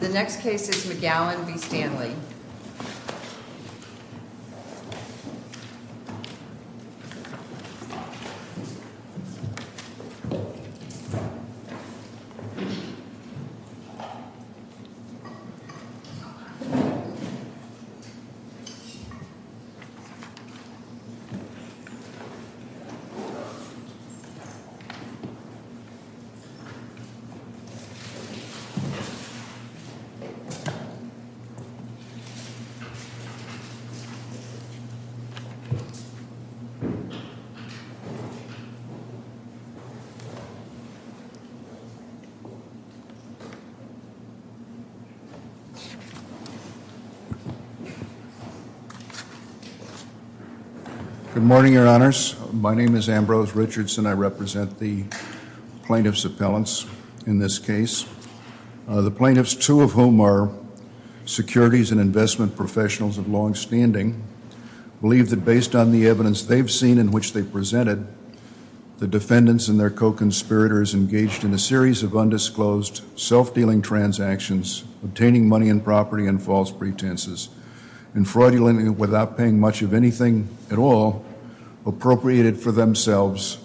The next case is McGowan v. Stanley. Good morning, your honors. My name is Ambrose Richardson. I represent the plaintiff's appellants in this case. The plaintiffs, two of whom are securities and investment professionals of long standing, believe that based on the evidence they've seen in which they presented, the defendants and their co-conspirators engaged in a series of undisclosed self-dealing transactions, obtaining money and property in false pretenses, and fraudulently, without paying much of anything at all, appropriated for themselves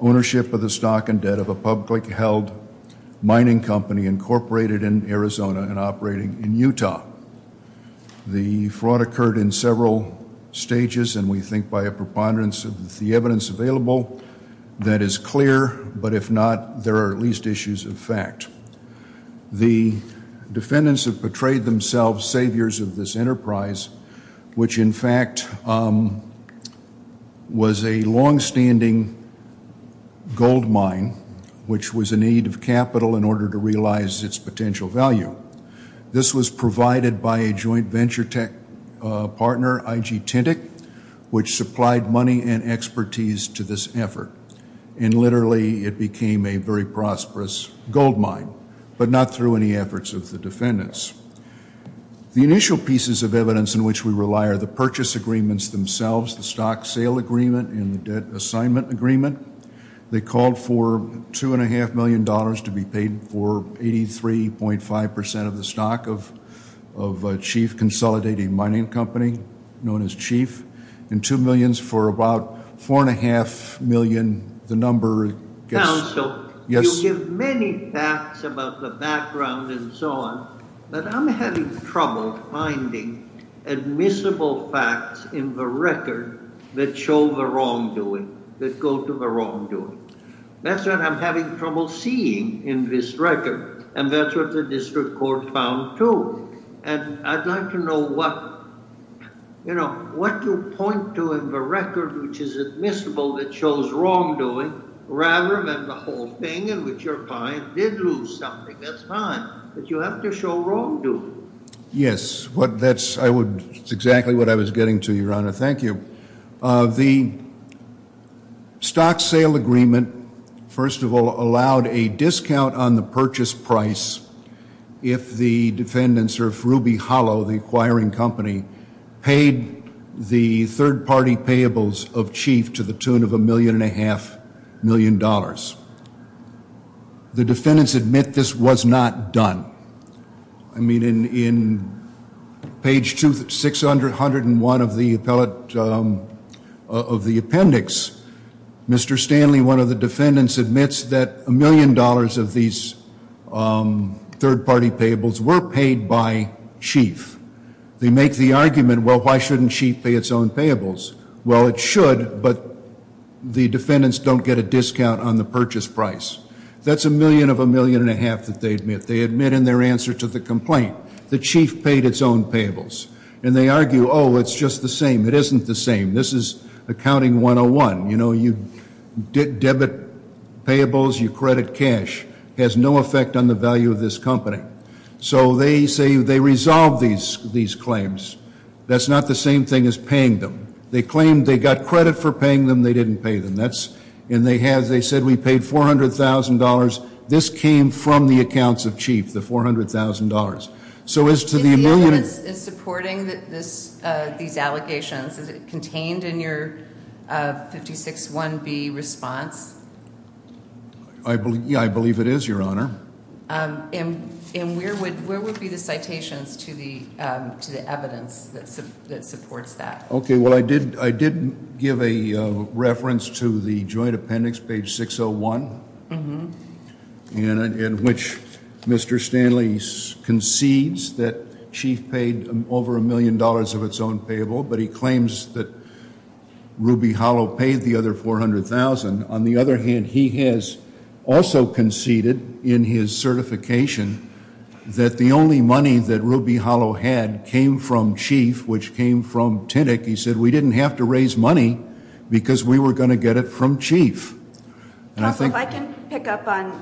ownership of the stock and debt of a publicly held mining company incorporated in Arizona and operating in Utah. The fraud occurred in several stages, and we think by a preponderance of the evidence available that is clear, but if not, there are at least issues of fact. The defendants have portrayed themselves saviors of this enterprise, which in fact was a long standing gold mine, which was in need of capital in order to realize its potential value. This was provided by a joint venture tech partner, IG Tintic, which supplied money and expertise to this effort, and literally it became a very prosperous gold mine, but not through any efforts of the defendants. The initial pieces of evidence in which we rely are the purchase agreements themselves, the stock sale agreement and the debt assignment agreement. They called for $2.5 million to be paid for 83.5% of the stock of a chief consolidated mining company known as Chief, and $2 million for about $4.5 million. Counsel, you give many facts about the background and so on, but I'm having trouble finding admissible facts in the record that show the wrongdoing, that go to the wrongdoing. That's what I'm having trouble seeing in this record, and that's what the district court found too. I'd like to know what you point to in the record which is admissible that shows wrongdoing rather than the whole thing in which your client did lose something. That's fine, but you have to show wrongdoing. Yes, that's exactly what I was getting to, Your Honor. Thank you. The stock sale agreement, first of all, allowed a discount on the purchase price if the defendants or if Ruby Hollow, the acquiring company, paid the third-party payables of Chief to the tune of $1.5 million. The defendants admit this was not done. I mean, in page 601 of the appendix, Mr. Stanley, one of the defendants, admits that $1 million of these third-party payables were paid by Chief. They make the argument, well, why shouldn't Chief pay its own payables? Well, it should, but the defendants don't get a discount on the purchase price. That's a million of a million and a half that they admit. They admit in their answer to the complaint that Chief paid its own payables. And they argue, oh, it's just the same. It isn't the same. This is accounting 101. You know, you debit payables, you credit cash. It has no effect on the value of this company. So they say they resolve these claims. That's not the same thing as paying them. They claim they got credit for paying them. They didn't pay them. And they said we paid $400,000. This came from the accounts of Chief, the $400,000. So as to the million. Is the evidence supporting these allegations? Is it contained in your 56-1B response? I believe it is, Your Honor. And where would be the citations to the evidence that supports that? Okay, well, I did give a reference to the joint appendix, page 601, in which Mr. Stanley concedes that Chief paid over a million dollars of its own payable, but he claims that Ruby Hollow paid the other $400,000. On the other hand, he has also conceded in his certification that the only money that Ruby Hollow had came from Chief, which came from TINIC. He said we didn't have to raise money because we were going to get it from Chief. Counsel, if I can pick up on,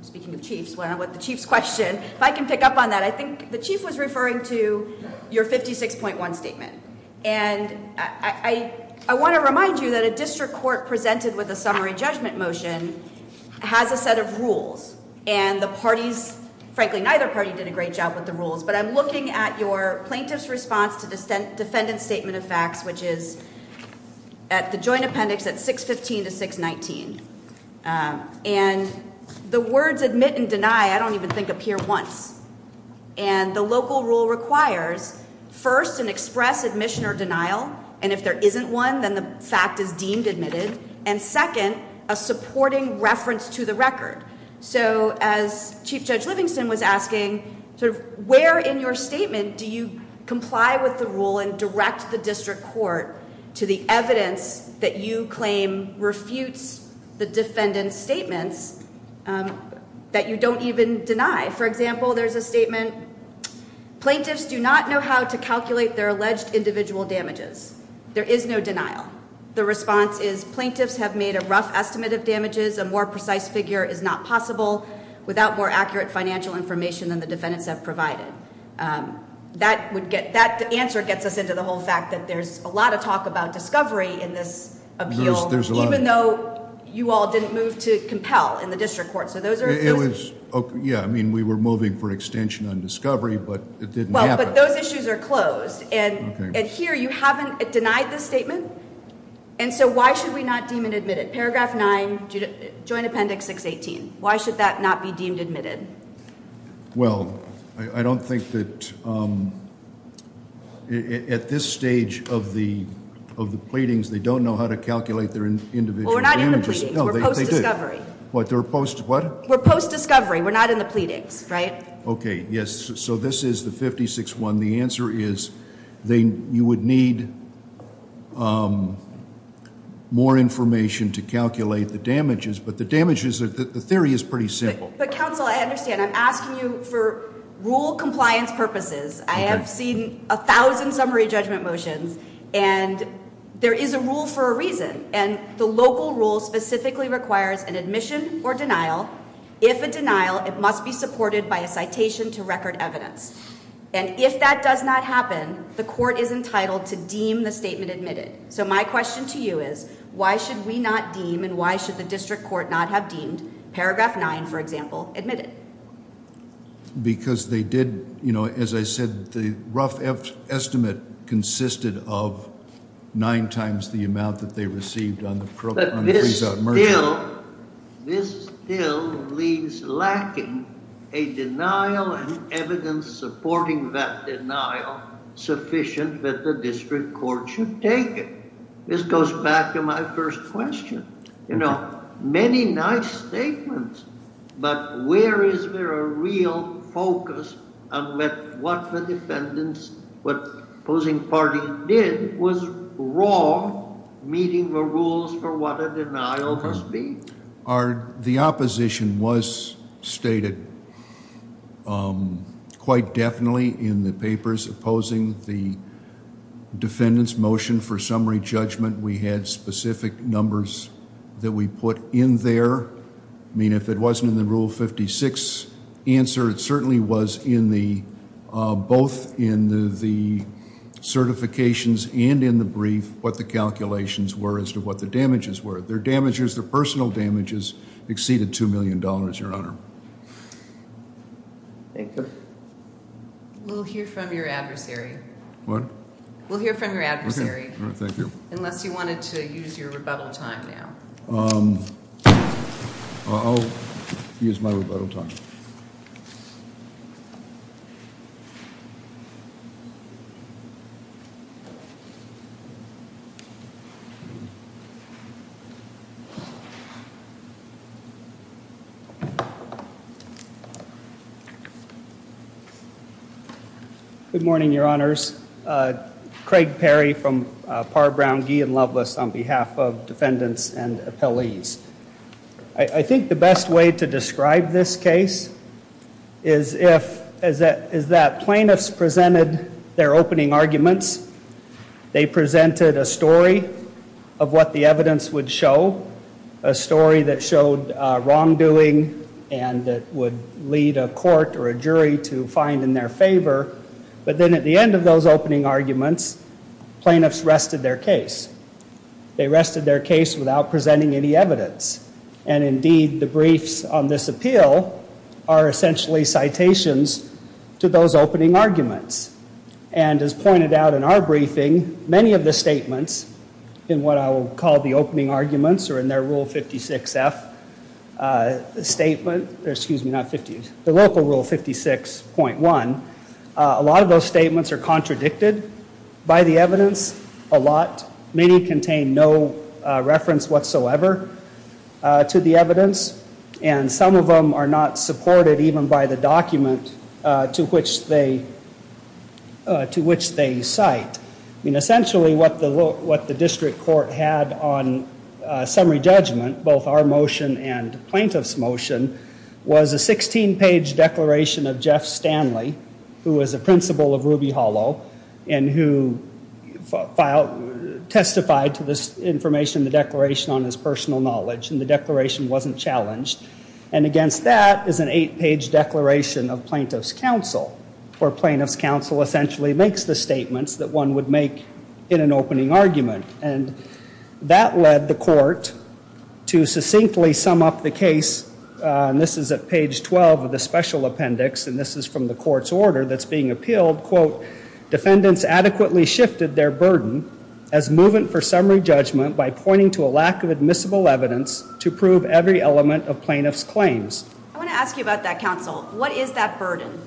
speaking of Chief's question, if I can pick up on that, I think the Chief was referring to your 56.1 statement. And I want to remind you that a district court presented with a summary judgment motion has a set of rules. And the parties, frankly, neither party did a great job with the rules. But I'm looking at your plaintiff's response to defendant's statement of facts, which is at the joint appendix at 615 to 619. And the words admit and deny I don't even think appear once. And the local rule requires, first, an express admission or denial. And if there isn't one, then the fact is deemed admitted. And second, a supporting reference to the record. So as Chief Judge Livingston was asking, where in your statement do you comply with the rule and direct the district court to the evidence that you claim refutes the defendant's statements that you don't even deny? For example, there's a statement, plaintiffs do not know how to calculate their alleged individual damages. There is no denial. The response is plaintiffs have made a rough estimate of damages. A more precise figure is not possible without more accurate financial information than the defendants have provided. That answer gets us into the whole fact that there's a lot of talk about discovery in this appeal, even though you all didn't move to compel in the district court. Yeah, I mean, we were moving for extension on discovery, but it didn't happen. Well, but those issues are closed. And here you haven't denied the statement. And so why should we not deem it admitted? Paragraph 9, Joint Appendix 618. Why should that not be deemed admitted? Well, I don't think that at this stage of the pleadings they don't know how to calculate their individual damages. Well, we're not in the pleadings. We're post-discovery. What, they're post-what? We're post-discovery. We're not in the pleadings, right? Okay, yes. So this is the 56-1. The answer is you would need more information to calculate the damages. But the damages, the theory is pretty simple. But, counsel, I understand. I'm asking you for rule compliance purposes. I have seen a thousand summary judgment motions. And there is a rule for a reason. And the local rule specifically requires an admission or denial. If a denial, it must be supported by a citation to record evidence. And if that does not happen, the court is entitled to deem the statement admitted. So my question to you is, why should we not deem and why should the district court not have deemed paragraph 9, for example, admitted? Because they did, you know, as I said, the rough estimate consisted of nine times the amount that they received on the freeze-out merger. But this still leaves lacking a denial and evidence supporting that denial sufficient that the district court should take it. This goes back to my first question. You know, many nice statements. But where is there a real focus on what the defendants, what opposing party did was wrong, meeting the rules for what a denial must be. The opposition was stated quite definitely in the papers opposing the defendant's motion for summary judgment. We had specific numbers that we put in there. I mean, if it wasn't in the Rule 56 answer, it certainly was in the, both in the certifications and in the brief, what the calculations were as to what the damages were. Their damages, their personal damages, exceeded $2 million, Your Honor. Thank you. We'll hear from your adversary. What? We'll hear from your adversary. All right, thank you. Unless you wanted to use your rebuttal time now. I'll use my rebuttal time. Good morning, Your Honors. Craig Perry from Parr, Brown, Gee, and Loveless on behalf of defendants and appellees. I think the best way to describe this case is if, is that plaintiffs presented their opening arguments. They presented a story of what the evidence would show. A story that showed wrongdoing and that would lead a court or a jury to find in their favor. But then at the end of those opening arguments, plaintiffs rested their case. They rested their case without presenting any evidence. And indeed, the briefs on this appeal are essentially citations to those opening arguments. And as pointed out in our briefing, many of the statements in what I will call the opening arguments or in their Rule 56F statement, excuse me, the local Rule 56.1, a lot of those statements are contradicted by the evidence a lot. Many contain no reference whatsoever to the evidence. And some of them are not supported even by the document to which they cite. I mean, essentially what the district court had on summary judgment, both our motion and plaintiff's motion, was a 16-page declaration of Jeff Stanley, who was a principal of Ruby Hollow, and who testified to this information in the declaration on his personal knowledge. And the declaration wasn't challenged. And against that is an eight-page declaration of plaintiff's counsel, where plaintiff's counsel essentially makes the statements that one would make in an opening argument. And that led the court to succinctly sum up the case. And this is at page 12 of the special appendix. And this is from the court's order that's being appealed, quote, defendants adequately shifted their burden as movement for summary judgment by pointing to a lack of admissible evidence to prove every element of plaintiff's claims. I want to ask you about that, counsel. What is that burden?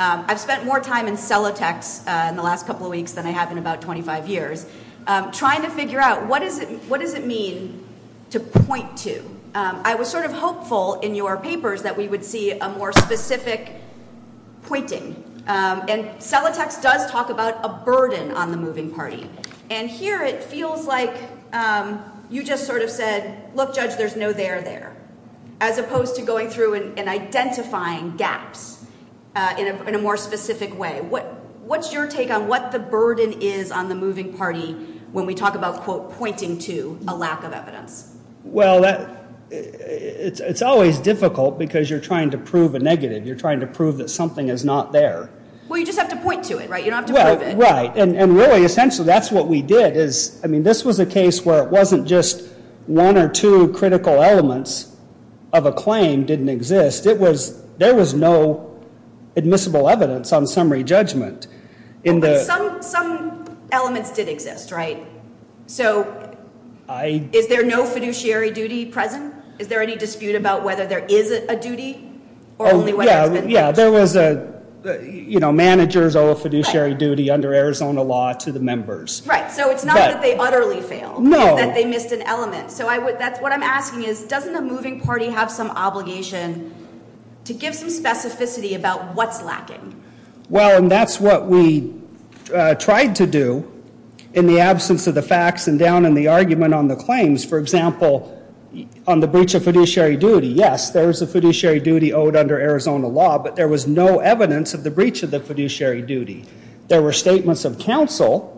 I've spent more time in Celotex in the last couple of weeks than I have in about 25 years trying to figure out what does it mean to point to. I was sort of hopeful in your papers that we would see a more specific pointing. And Celotex does talk about a burden on the moving party. And here it feels like you just sort of said, look, Judge, there's no there there, as opposed to going through and identifying gaps in a more specific way. What's your take on what the burden is on the moving party when we talk about, quote, pointing to a lack of evidence? Well, it's always difficult because you're trying to prove a negative. You're trying to prove that something is not there. Well, you just have to point to it, right? You don't have to prove it. Right. And really, essentially, that's what we did. I mean, this was a case where it wasn't just one or two critical elements of a claim didn't exist. There was no admissible evidence on summary judgment. Some elements did exist, right? So is there no fiduciary duty present? Is there any dispute about whether there is a duty? Oh, yeah. Yeah. There was a, you know, managers owe a fiduciary duty under Arizona law to the members. Right. So it's not that they utterly failed. No. That they missed an element. So that's what I'm asking is, doesn't the moving party have some obligation to give some specificity about what's lacking? Well, and that's what we tried to do in the absence of the facts and down in the argument on the claims. For example, on the breach of fiduciary duty, yes, there is a fiduciary duty owed under Arizona law. But there was no evidence of the breach of the fiduciary duty. There were statements of counsel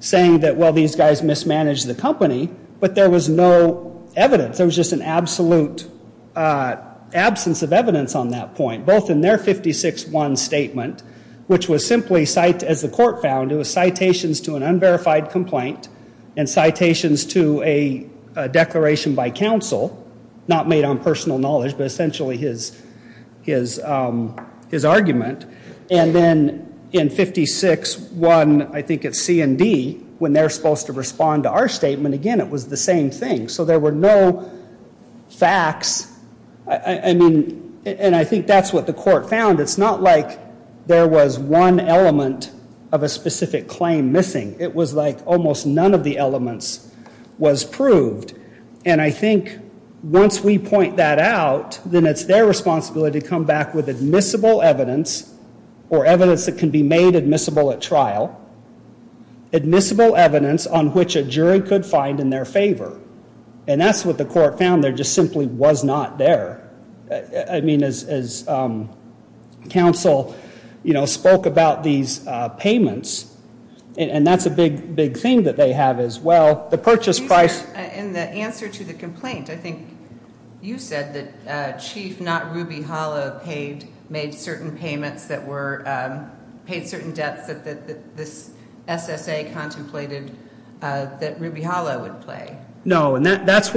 saying that, well, these guys mismanaged the company. But there was no evidence. There was just an absolute absence of evidence on that point, both in their 56-1 statement, which was simply, as the court found, it was citations to an unverified complaint and citations to a declaration by counsel, not made on personal knowledge, but essentially his argument. And then in 56-1, I think it's C&D, when they're supposed to respond to our statement, again, it was the same thing. So there were no facts. I mean, and I think that's what the court found. It's not like there was one element of a specific claim missing. It was like almost none of the elements was proved. And I think once we point that out, then it's their responsibility to come back with admissible evidence or evidence that can be made admissible at trial, admissible evidence on which a jury could find in their favor. And that's what the court found. There just simply was not there. I mean, as counsel, you know, spoke about these payments, and that's a big, big thing that they have as well. The purchase price. In the answer to the complaint, I think you said that Chief, not Ruby Hollow, paid, made certain payments that were, paid certain debts that this SSA contemplated that Ruby Hollow would pay. No, and that's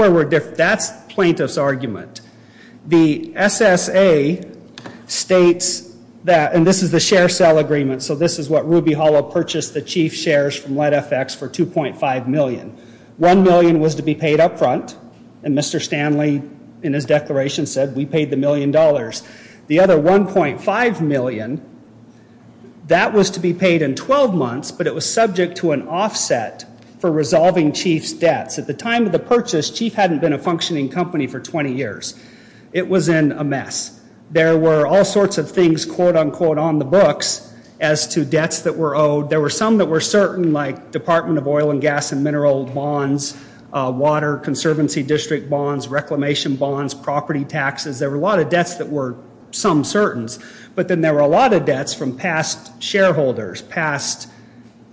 plaintiff's argument. The SSA states that, and this is the share sale agreement, so this is what Ruby Hollow purchased the Chief's shares from Lead FX for 2.5 million. One million was to be paid up front, and Mr. Stanley, in his declaration, said we paid the million dollars. The other 1.5 million, that was to be paid in 12 months, but it was subject to an offset for resolving Chief's debts. At the time of the purchase, Chief hadn't been a functioning company for 20 years. It was in a mess. There were all sorts of things, quote, unquote, on the books as to debts that were owed. There were some that were certain, like Department of Oil and Gas and Mineral bonds, water, Conservancy District bonds, reclamation bonds, property taxes. There were a lot of debts that were some certain, but then there were a lot of debts from past shareholders, past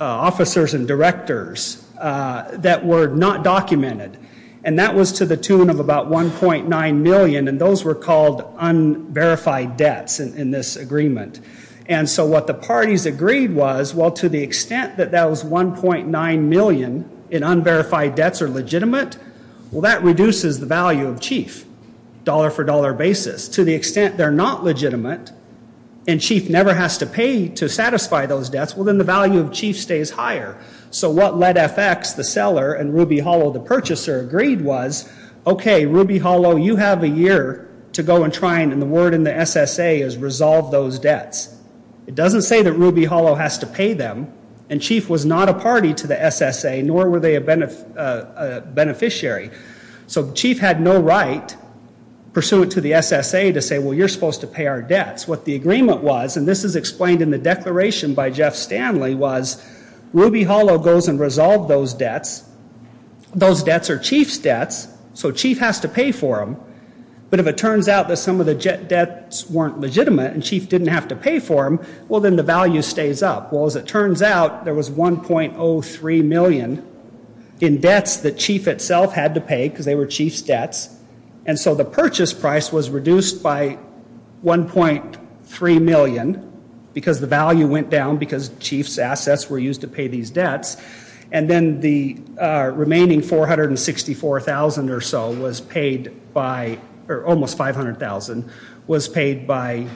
officers and directors that were not documented. And that was to the tune of about 1.9 million, and those were called unverified debts in this agreement. And so what the parties agreed was, well, to the extent that that was 1.9 million in unverified debts or legitimate, well, that reduces the value of Chief dollar for dollar basis. To the extent they're not legitimate and Chief never has to pay to satisfy those debts, well, then the value of Chief stays higher. So what Led FX, the seller, and Ruby Hollow, the purchaser, agreed was, okay, Ruby Hollow, you have a year to go and try, and the word in the SSA is resolve those debts. It doesn't say that Ruby Hollow has to pay them, and Chief was not a party to the SSA, nor were they a beneficiary. So Chief had no right, pursuant to the SSA, to say, well, you're supposed to pay our debts. What the agreement was, and this is explained in the declaration by Jeff Stanley, was Ruby Hollow goes and resolves those debts. Those debts are Chief's debts, so Chief has to pay for them. But if it turns out that some of the debts weren't legitimate and Chief didn't have to pay for them, well, then the value stays up. Well, as it turns out, there was 1.03 million in debts that Chief itself had to pay because they were Chief's debts, and so the purchase price was reduced by 1.3 million because the value went down because Chief's assets were used to pay these debts, and then the remaining 464,000 or so was paid by, or almost 500,000, was paid by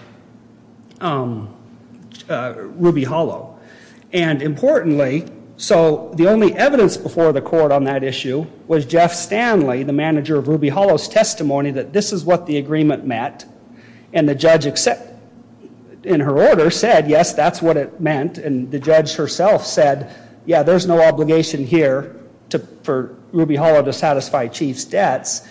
Ruby Hollow. And importantly, so the only evidence before the court on that issue was Jeff Stanley, the manager of Ruby Hollow's testimony, that this is what the agreement meant, and the judge, in her order, said, yes, that's what it meant, and the judge herself said, yeah, there's no obligation here for Ruby Hollow to satisfy Chief's debts.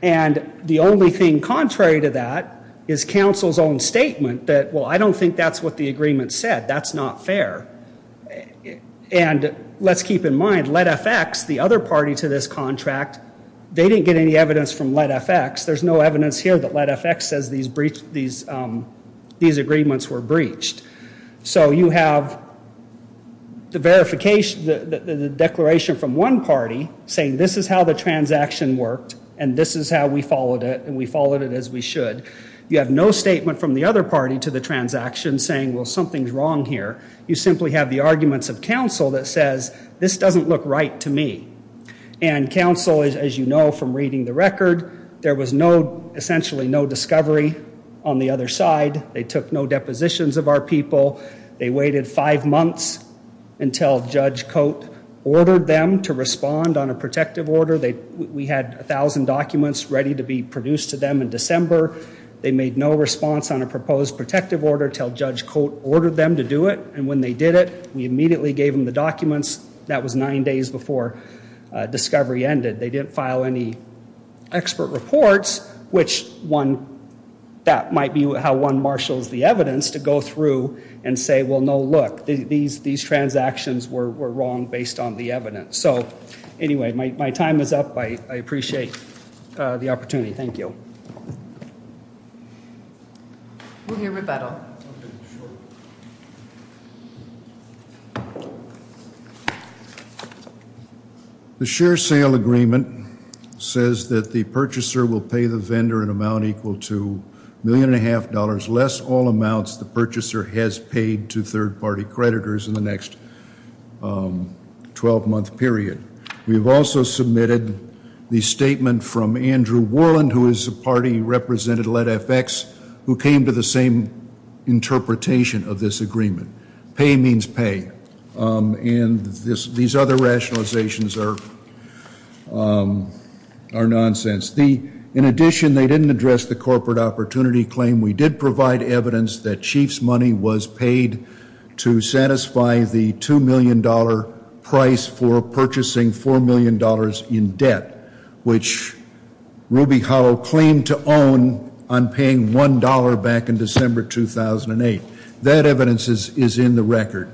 And the only thing contrary to that is counsel's own statement that, well, I don't think that's what the agreement said. That's not fair. And let's keep in mind, Let FX, the other party to this contract, they didn't get any evidence from Let FX. There's no evidence here that Let FX says these agreements were breached. So you have the declaration from one party saying this is how the transaction worked, and this is how we followed it, and we followed it as we should. You have no statement from the other party to the transaction saying, well, something's wrong here. You simply have the arguments of counsel that says this doesn't look right to me. And counsel, as you know from reading the record, there was essentially no discovery on the other side. They took no depositions of our people. They waited five months until Judge Cote ordered them to respond on a protective order. We had 1,000 documents ready to be produced to them in December. They made no response on a proposed protective order until Judge Cote ordered them to do it, and when they did it, we immediately gave them the documents. That was nine days before discovery ended. They didn't file any expert reports, which that might be how one marshals the evidence to go through and say, well, no, look, these transactions were wrong based on the evidence. So, anyway, my time is up. I appreciate the opportunity. Thank you. We'll hear rebuttal. Okay, sure. The share sale agreement says that the purchaser will pay the vendor an amount equal to $1.5 million, less all amounts the purchaser has paid to third-party creditors in the next 12-month period. We have also submitted the statement from Andrew Worland, who is a party representative at FX, who came to the same interpretation of this agreement. Pay means pay, and these other rationalizations are nonsense. In addition, they didn't address the corporate opportunity claim. We did provide evidence that Chief's money was paid to satisfy the $2 million price for purchasing $4 million in debt, which Ruby Hollow claimed to own on paying $1 back in December 2008. That evidence is in the record.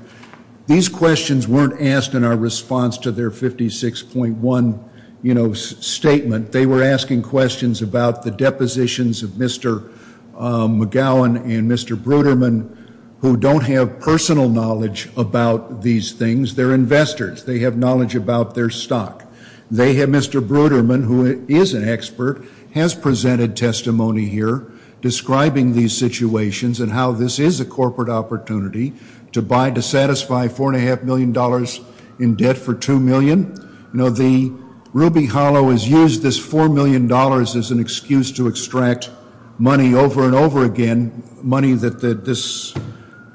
These questions weren't asked in our response to their 56.1, you know, statement. They were asking questions about the depositions of Mr. McGowan and Mr. Bruderman, who don't have personal knowledge about these things. They're investors. They have knowledge about their stock. They have Mr. Bruderman, who is an expert, has presented testimony here, describing these situations and how this is a corporate opportunity to buy, to satisfy $4.5 million in debt for $2 million. You know, the Ruby Hollow has used this $4 million as an excuse to extract money over and over again, money that this,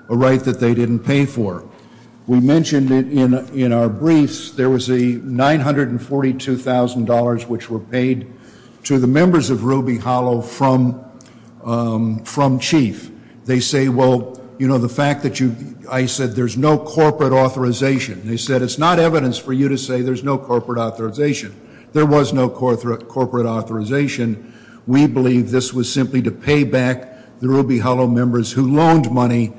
a right that they didn't pay for. We mentioned it in our briefs. There was a $942,000 which were paid to the members of Ruby Hollow from Chief. They say, well, you know, the fact that you, I said there's no corporate authorization. They said it's not evidence for you to say there's no corporate authorization. There was no corporate authorization. We believe this was simply to pay back the Ruby Hollow members who loaned money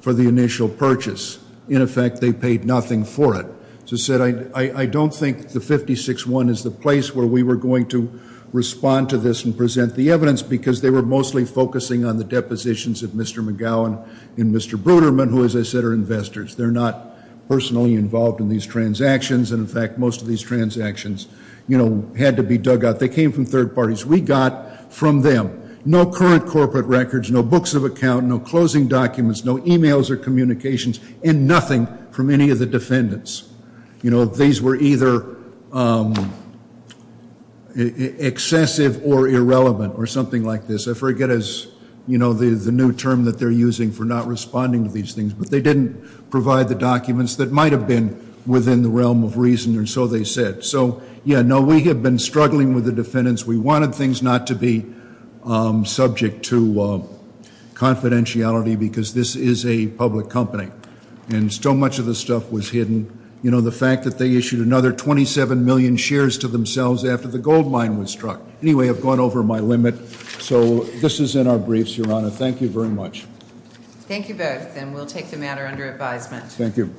for the initial purchase. In effect, they paid nothing for it. So I said I don't think the 56.1 is the place where we were going to respond to this and present the evidence because they were mostly focusing on the depositions of Mr. McGowan and Mr. Bruderman, who, as I said, are investors. They're not personally involved in these transactions. And, in fact, most of these transactions, you know, had to be dug out. They came from third parties. We got from them no current corporate records, no books of account, no closing documents, no e-mails or communications, and nothing from any of the defendants. You know, these were either excessive or irrelevant or something like this. I forget the new term that they're using for not responding to these things, but they didn't provide the documents that might have been within the realm of reason, and so they said. So, yeah, no, we have been struggling with the defendants. We wanted things not to be subject to confidentiality because this is a public company. And so much of this stuff was hidden. You know, the fact that they issued another 27 million shares to themselves after the gold mine was struck. Anyway, I've gone over my limit. So this is in our briefs, Your Honor. Thank you very much. Thank you both, and we'll take the matter under advisement. Thank you.